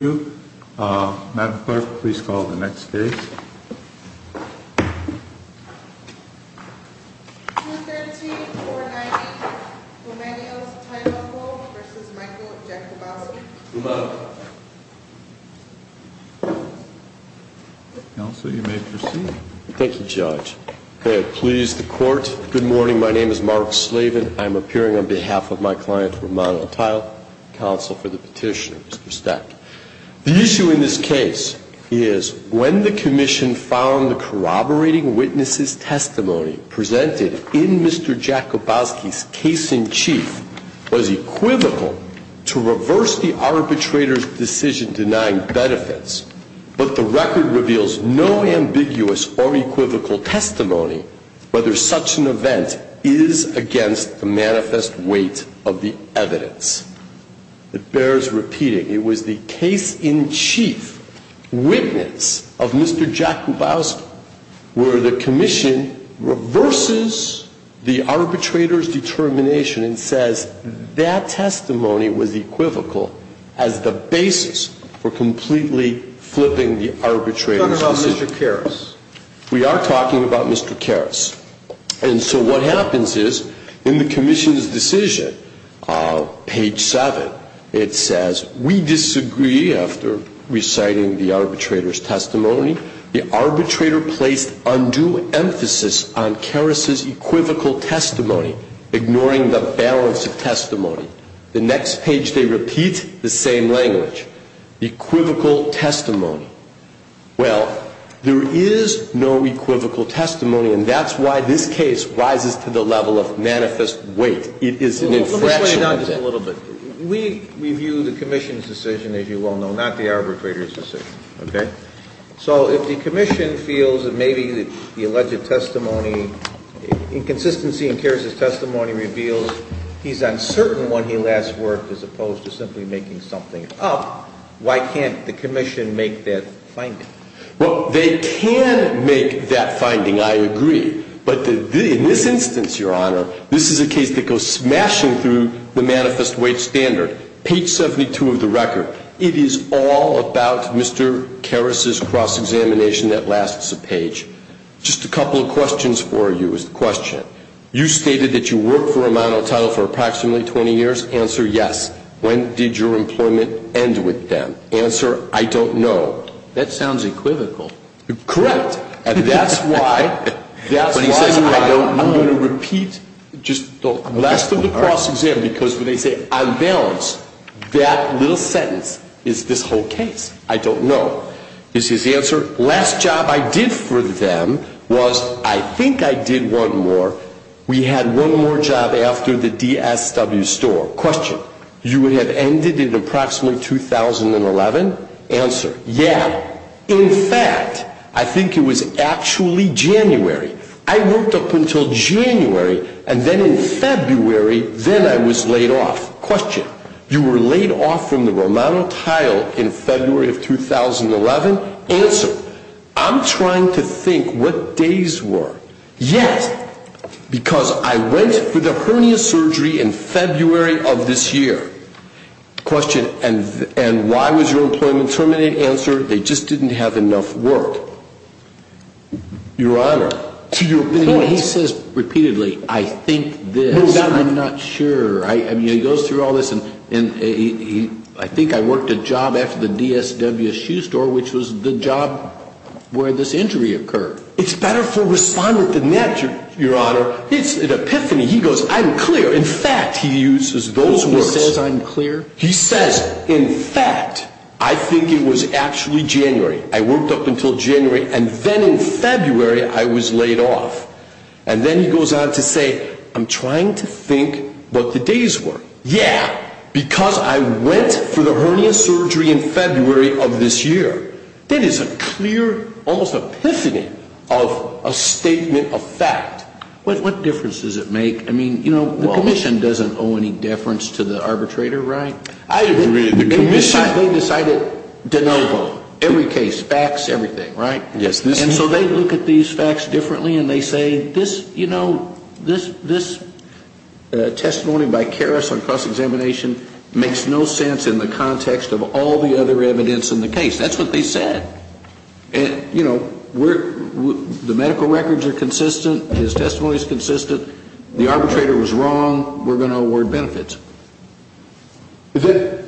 Madam Clerk, please call the next case. Counsel, you may proceed. Thank you, Judge. May it please the Court, good morning, my name is Mark Slavin. I am appearing on behalf of my client, Romano Tile, counsel for the petitioner, Mr. Stack. The issue in this case is when the Commission found the corroborating witnesses' testimony presented in Mr. Jakubowski's case-in-chief was equivocal to reverse the arbitrator's decision denying benefits, but the record reveals no ambiguous or equivocal testimony whether such an event is against the manifest weight of the evidence. It bears repeating. It was the case-in-chief witness of Mr. Jakubowski where the Commission reverses the arbitrator's determination and says that testimony was equivocal as the basis for completely flipping the arbitrator's decision. We are talking about Mr. Karras. And so what happens is, in the Commission's decision, page 7, it says, We disagree after reciting the arbitrator's testimony. The arbitrator placed undue emphasis on Karras's equivocal testimony, ignoring the balance of testimony. The next page they repeat the same language. Equivocal testimony. Well, there is no equivocal testimony, and that's why this case rises to the level of manifest weight. It is an infraction. Let me slow you down just a little bit. We review the Commission's decision, as you well know, not the arbitrator's decision. Okay? So if the Commission feels that maybe the alleged testimony, inconsistency in Karras's testimony reveals he's uncertain when he last worked as opposed to simply making something up, why can't the Commission make that finding? Well, they can make that finding, I agree. But in this instance, Your Honor, this is a case that goes smashing through the manifest weight standard. Page 72 of the record. It is all about Mr. Karras's cross-examination that lasts a page. Just a couple of questions for you is the question. You stated that you worked for a monotitle for approximately 20 years. Answer, yes. When did your employment end with them? Answer, I don't know. That sounds equivocal. Correct. And that's why I'm going to repeat just the last of the cross-exam, because when they say unbalanced, that little sentence is this whole case. I don't know. Last job I did for them was, I think I did one more. We had one more job after the DSW store. Question. You would have ended in approximately 2011? Answer, yeah. In fact, I think it was actually January. I worked up until January, and then in February, then I was laid off. Question. You were laid off from the Romano Tile in February of 2011? Answer. I'm trying to think what days were. Yes, because I went for the hernia surgery in February of this year. Question. And why was your employment terminated? Answer, they just didn't have enough work. Your Honor, to your point. He says repeatedly, I think this. I'm not sure. I mean, he goes through all this, and I think I worked a job after the DSW shoe store, which was the job where this injury occurred. It's better for respondent than that, Your Honor. It's an epiphany. He goes, I'm clear. In fact, he uses those words. He says I'm clear? He says, in fact, I think it was actually January. I worked up until January, and then in February, I was laid off. And then he goes on to say, I'm trying to think what the days were. Yeah, because I went for the hernia surgery in February of this year. That is a clear, almost epiphany of a statement of fact. What difference does it make? I mean, you know, the commission doesn't owe any deference to the arbitrator, right? I agree. The commission, they decided de novo, every case, facts, everything, right? Yes. And so they look at these facts differently, and they say this, you know, this testimony by Karras on cross-examination makes no sense in the context of all the other evidence in the case. That's what they said. You know, the medical records are consistent. His testimony is consistent. The arbitrator was wrong. We're going to award benefits. That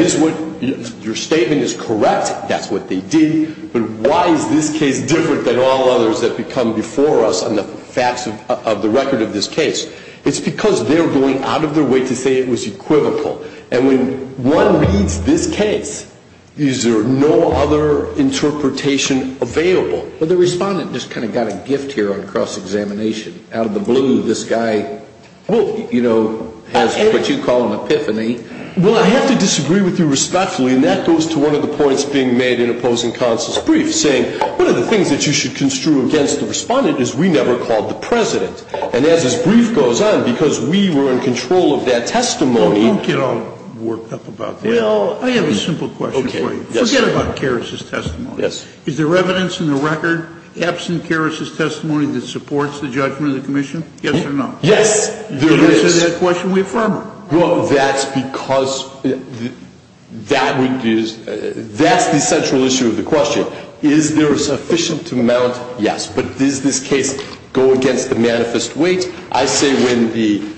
is what your statement is correct. That's what they did. But why is this case different than all others that become before us on the facts of the record of this case? It's because they're going out of their way to say it was equivocal. And when one reads this case, is there no other interpretation available? But the respondent just kind of got a gift here on cross-examination. Out of the blue, this guy, you know, has what you call an epiphany. Well, I have to disagree with you respectfully, and that goes to one of the points being made in opposing counsel's brief, saying one of the things that you should construe against the respondent is we never called the president. And as his brief goes on, because we were in control of that testimony. Don't get all worked up about that. Well, I have a simple question for you. Forget about Karras's testimony. Is there evidence in the record absent Karras's testimony that supports the judgment of the commission? Yes or no? Yes, there is. In answer to that question, we affirm it. Well, that's because that's the central issue of the question. Is there a sufficient amount? Yes. But does this case go against the manifest weight? I say when the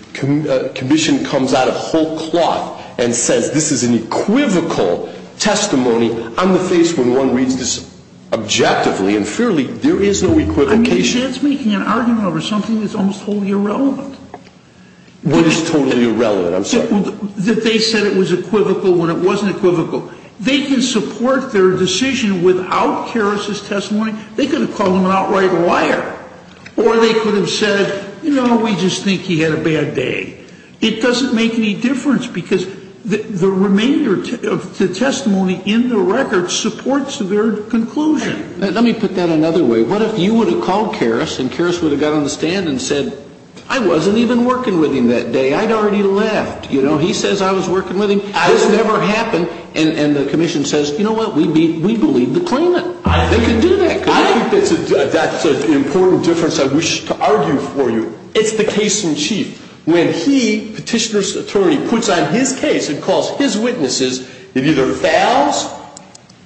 commission comes out of whole cloth and says this is an equivocal testimony, I'm the face when one reads this objectively and fairly, there is no equivocation. I mean, she's making an argument over something that's almost totally irrelevant. What is totally irrelevant? I'm sorry. That they said it was equivocal when it wasn't equivocal. They can support their decision without Karras's testimony. They could have called him an outright liar. Or they could have said, you know, we just think he had a bad day. It doesn't make any difference because the remainder of the testimony in the record supports their conclusion. Let me put that another way. What if you would have called Karras and Karras would have got on the stand and said, I wasn't even working with him that day. I'd already left. You know, he says I was working with him. This never happened. And the commission says, you know what, we believe the claimant. They can do that. I think that's an important difference I wish to argue for you. It's the case in chief. When he, petitioner's attorney, puts on his case and calls his witnesses, it either fails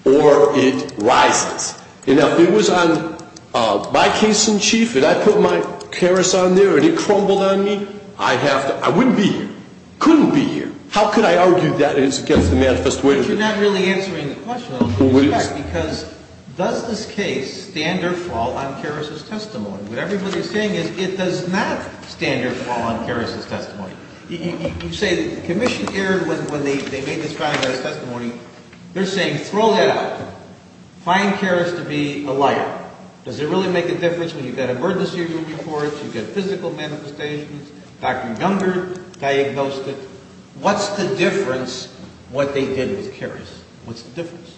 or it rises. You know, if it was on my case in chief and I put my Karras on there and it crumbled on me, I have to – I wouldn't be here. Couldn't be here. How could I argue that it's against the manifest witness? But you're not really answering the question, because does this case stand or fall on Karras' testimony? What everybody is saying is it does not stand or fall on Karras' testimony. You say the commission erred when they made this finalized testimony. They're saying throw that out. Find Karras to be a liar. Does it really make a difference when you've got emergency room reports, you've got physical manifestations, Dr. Gunger diagnosed it. What's the difference what they did with Karras? What's the difference?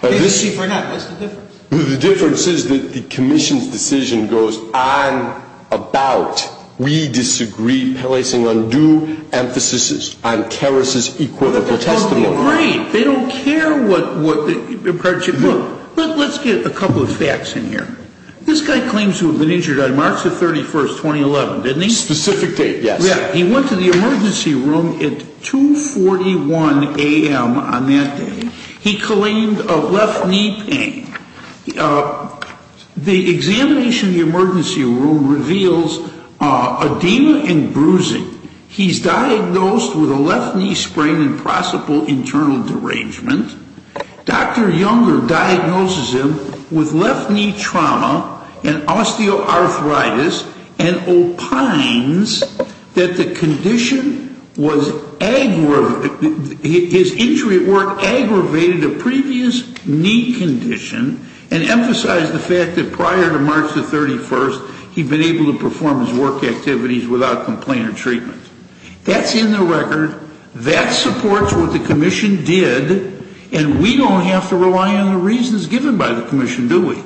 The difference is that the commission's decision goes on about we disagree, placing undue emphasis on Karras' equitable testimony. They don't care what the – look, let's get a couple of facts in here. This guy claims to have been injured on March the 31st, 2011, didn't he? Specific date, yes. He went to the emergency room at 2.41 a.m. on that day. He claimed a left knee pain. The examination of the emergency room reveals edema and bruising. He's diagnosed with a left knee sprain and possible internal derangement. Dr. Gunger diagnoses him with left knee trauma and osteoarthritis and opines that the condition was – his injury at work aggravated a previous knee condition and emphasized the fact that prior to March the 31st, he'd been able to perform his work activities without complaint or treatment. That's in the record. That supports what the commission did, and we don't have to rely on the reasons given by the commission, do we?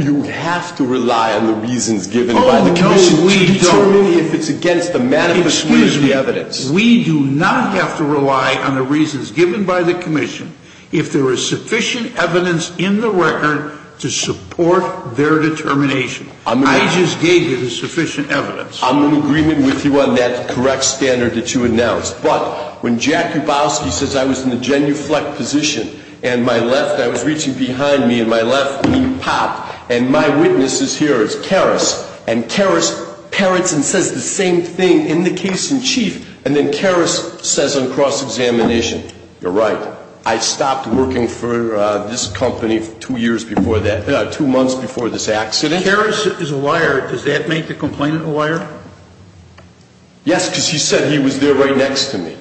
You have to rely on the reasons given by the commission to determine if it's against the manifest way of the evidence. Excuse me. We do not have to rely on the reasons given by the commission if there is sufficient evidence in the record to support their determination. I just gave you the sufficient evidence. I'm in agreement with you on that correct standard that you announced. But when Jack Hubowski says I was in the genuflect position and my left – I was reaching behind me and my left knee popped, and my witness is here, it's Karras. And Karras parrots and says the same thing in the case in chief, and then Karras says on cross-examination, you're right, I stopped working for this company two years before that – two months before this accident. If Karras is a liar, does that make the complainant a liar? Yes, because he said he was there right next to me.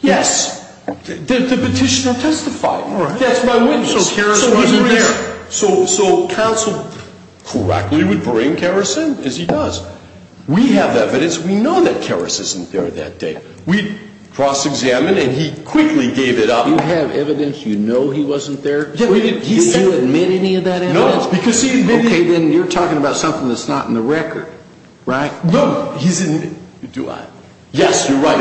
Yes. The petitioner testified. That's my witness. So Karras wasn't there. So counsel correctly would bring Karras in, as he does. We have evidence. We know that Karras isn't there that day. We cross-examined, and he quickly gave it up. You have evidence you know he wasn't there? Did you admit any of that evidence? No. Okay, then you're talking about something that's not in the record, right? No. Do I? Yes, you're right.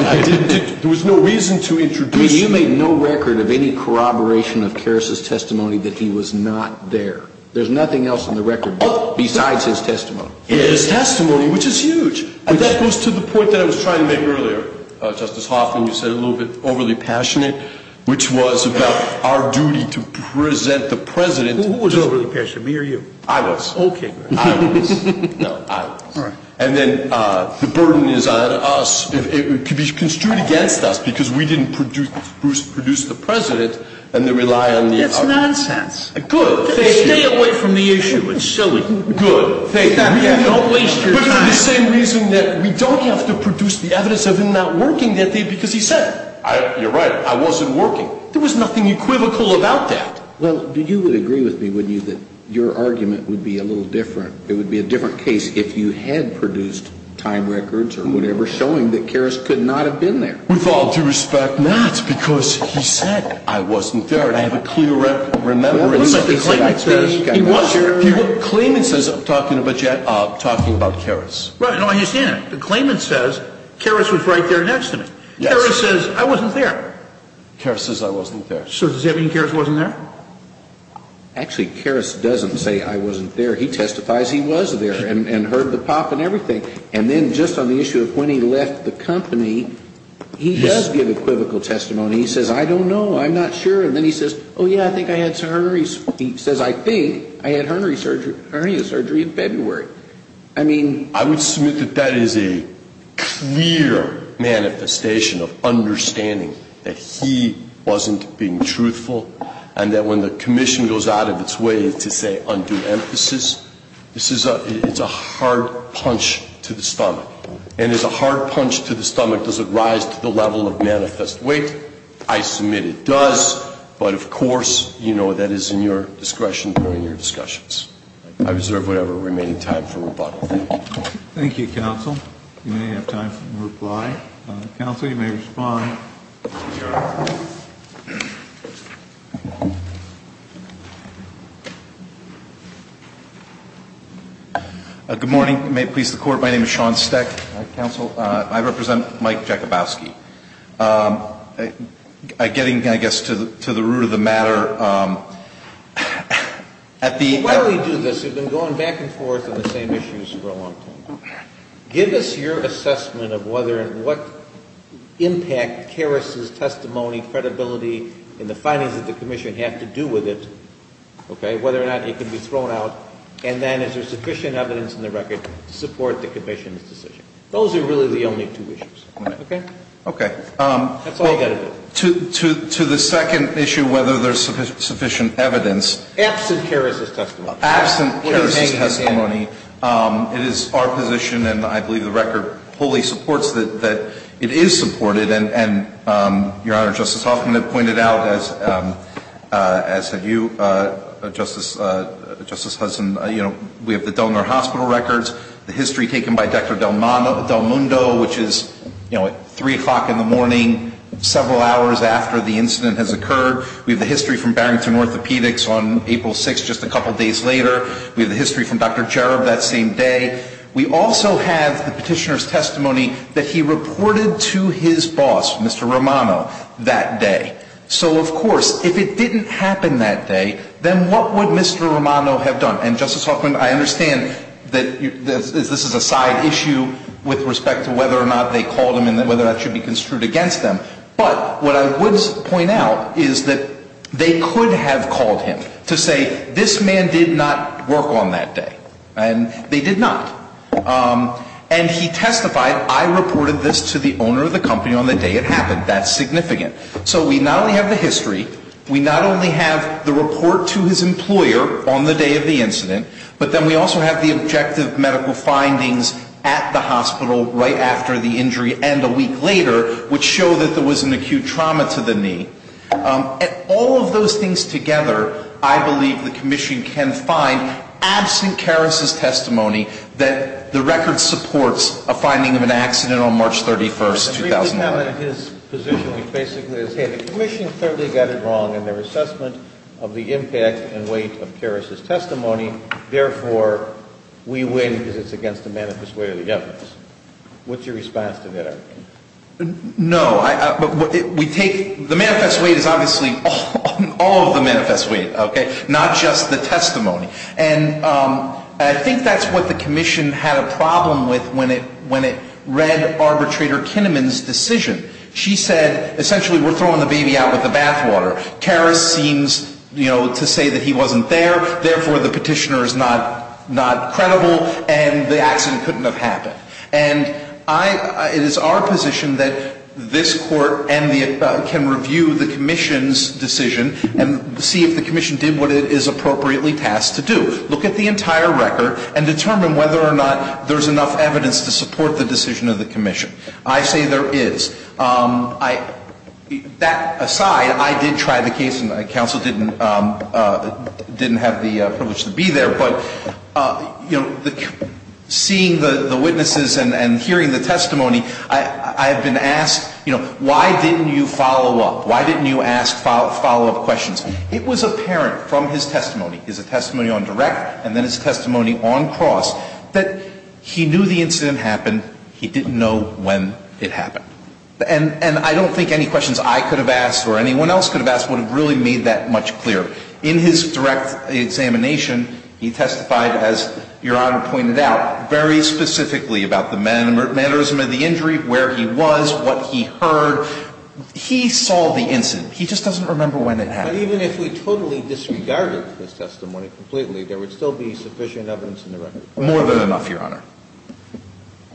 There was no reason to introduce him. You made no record of any corroboration of Karras' testimony that he was not there. There's nothing else in the record besides his testimony. His testimony, which is huge. That goes to the point that I was trying to make earlier, Justice Hoffman. You said a little bit overly passionate, which was about our duty to present the President. Who was overly passionate, me or you? I was. Okay. I was. No, I was. All right. And then the burden is on us. It could be construed against us because we didn't produce the President, and they rely on the other. That's nonsense. Good. Stay away from the issue. It's silly. Good. Thank you. Don't waste your time. But for the same reason that we don't have to produce the evidence of him not working that day because he said it. You're right. I wasn't working. There was nothing equivocal about that. Well, you would agree with me, wouldn't you, that your argument would be a little different. It would be a different case if you had produced time records or whatever showing that Karras could not have been there. With all due respect, not, because he said I wasn't there. And I have a clear record. Remember? Remember that the claimant said he wasn't there? The claimant says I'm talking about Karras. Right. No, I understand that. The claimant says Karras was right there next to me. Yes. Karras says I wasn't there. Karras says I wasn't there. So does that mean Karras wasn't there? Actually, Karras doesn't say I wasn't there. He testifies he was there and heard the pop and everything. And then just on the issue of when he left the company, he does give equivocal testimony. He says, I don't know. I'm not sure. And then he says, oh, yeah, I think I had some hernias. He says, I think I had hernia surgery in February. I would submit that that is a clear manifestation of understanding that he wasn't being truthful and that when the commission goes out of its way to say undo emphasis, it's a hard punch to the stomach. And as a hard punch to the stomach, does it rise to the level of manifest weight? I submit it does. But, of course, you know, that is in your discretion during your discussions. I reserve whatever remaining time for rebuttal. Thank you. Thank you, counsel. You may have time for reply. Counsel, you may respond. Good morning. May it please the Court. My name is Sean Steck. Counsel, I represent Mike Jakubowski. I'm getting, I guess, to the root of the matter. At the end of the day. While you do this, you've been going back and forth on the same issues for a long time. Give us your assessment of whether and what impact Karras' testimony, credibility and the findings of the commission have to do with it, okay, whether or not it can be thrown out. And then is there sufficient evidence in the record to support the commission's decision? Those are really the only two issues, okay? Okay. That's all you've got to do. To the second issue, whether there's sufficient evidence. Absent Karras' testimony. Absent Karras' testimony. It is our position, and I believe the record fully supports that it is supported. And, Your Honor, Justice Hoffman had pointed out, as have you, Justice Hudson, you know, we have the Del Nor Hospital records, the history taken by Dr. Del Mundo, which is, you know, at 3 o'clock in the morning, several hours after the incident has occurred. We have the history from Barrington Orthopedics on April 6th, just a couple days later. We have the history from Dr. Cherub that same day. We also have the petitioner's testimony that he reported to his boss, Mr. Romano, that day. So, of course, if it didn't happen that day, then what would Mr. Romano have done? And Justice Hoffman, I understand that this is a side issue with respect to whether or not they called him and whether that should be construed against them. But what I would point out is that they could have called him to say, this man did not work on that day. And they did not. And he testified, I reported this to the owner of the company on the day it happened. That's significant. So we not only have the history, we not only have the report to his employer on the day of the incident, but then we also have the objective medical findings at the hospital right after the injury and a week later, which show that there was an acute trauma to the knee. And all of those things together, I believe the Commission can find, absent Karras' testimony, that the record supports a finding of an accident on March 31st, 2009. So we have in his position, which basically is, hey, the Commission clearly got it wrong in their assessment of the impact and weight of Karras' testimony. Therefore, we win because it's against the manifest weight of the evidence. What's your response to that argument? No. We take the manifest weight is obviously all of the manifest weight, okay, not just the testimony. And I think that's what the Commission had a problem with when it read Arbitrator Kinnaman's decision. She said, essentially, we're throwing the baby out with the bathwater. Karras seems, you know, to say that he wasn't there. Therefore, the petitioner is not credible and the accident couldn't have happened. And I, it is our position that this Court and the, can review the Commission's decision and see if the Commission did what it is appropriately tasked to do. Look at the entire record and determine whether or not there's enough evidence to support the decision of the Commission. I say there is. I, that aside, I did try the case and the counsel didn't, didn't have the privilege to be there. But, you know, seeing the witnesses and hearing the testimony, I have been asked, you know, why didn't you follow up? Why didn't you ask follow-up questions? It was apparent from his testimony, his testimony on direct and then his testimony on cross, that he knew the incident happened. He didn't know when it happened. And I don't think any questions I could have asked or anyone else could have asked would have really made that much clearer. In his direct examination, he testified, as Your Honor pointed out, very specifically about the mannerism of the injury, where he was, what he heard. He just doesn't remember when it happened. But even if we totally disregarded his testimony completely, there would still be sufficient evidence in the record. More than enough, Your Honor.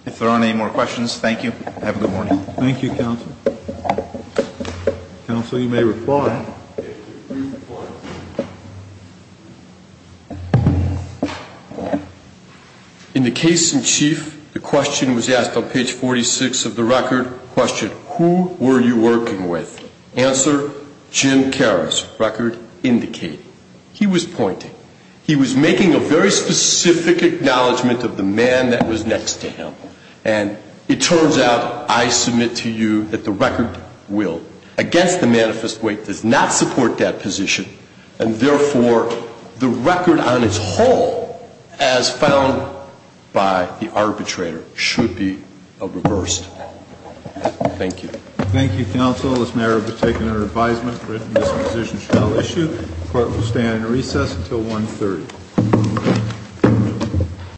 If there aren't any more questions, thank you. Have a good morning. Thank you, counsel. Counsel, you may reply. In the case in chief, the question was asked on page 46 of the record. Question, who were you working with? Answer, Jim Karras, record indicating. He was pointing. He was making a very specific acknowledgment of the man that was next to him. And it turns out, I submit to you, that the record will, against the manifest weight, does not support that position. And therefore, the record on its whole, as found by the arbitrator, should be reversed. Thank you. Thank you, counsel. This matter has been taken under advisement, written disposition shall issue. Court will stand in recess until 1.30.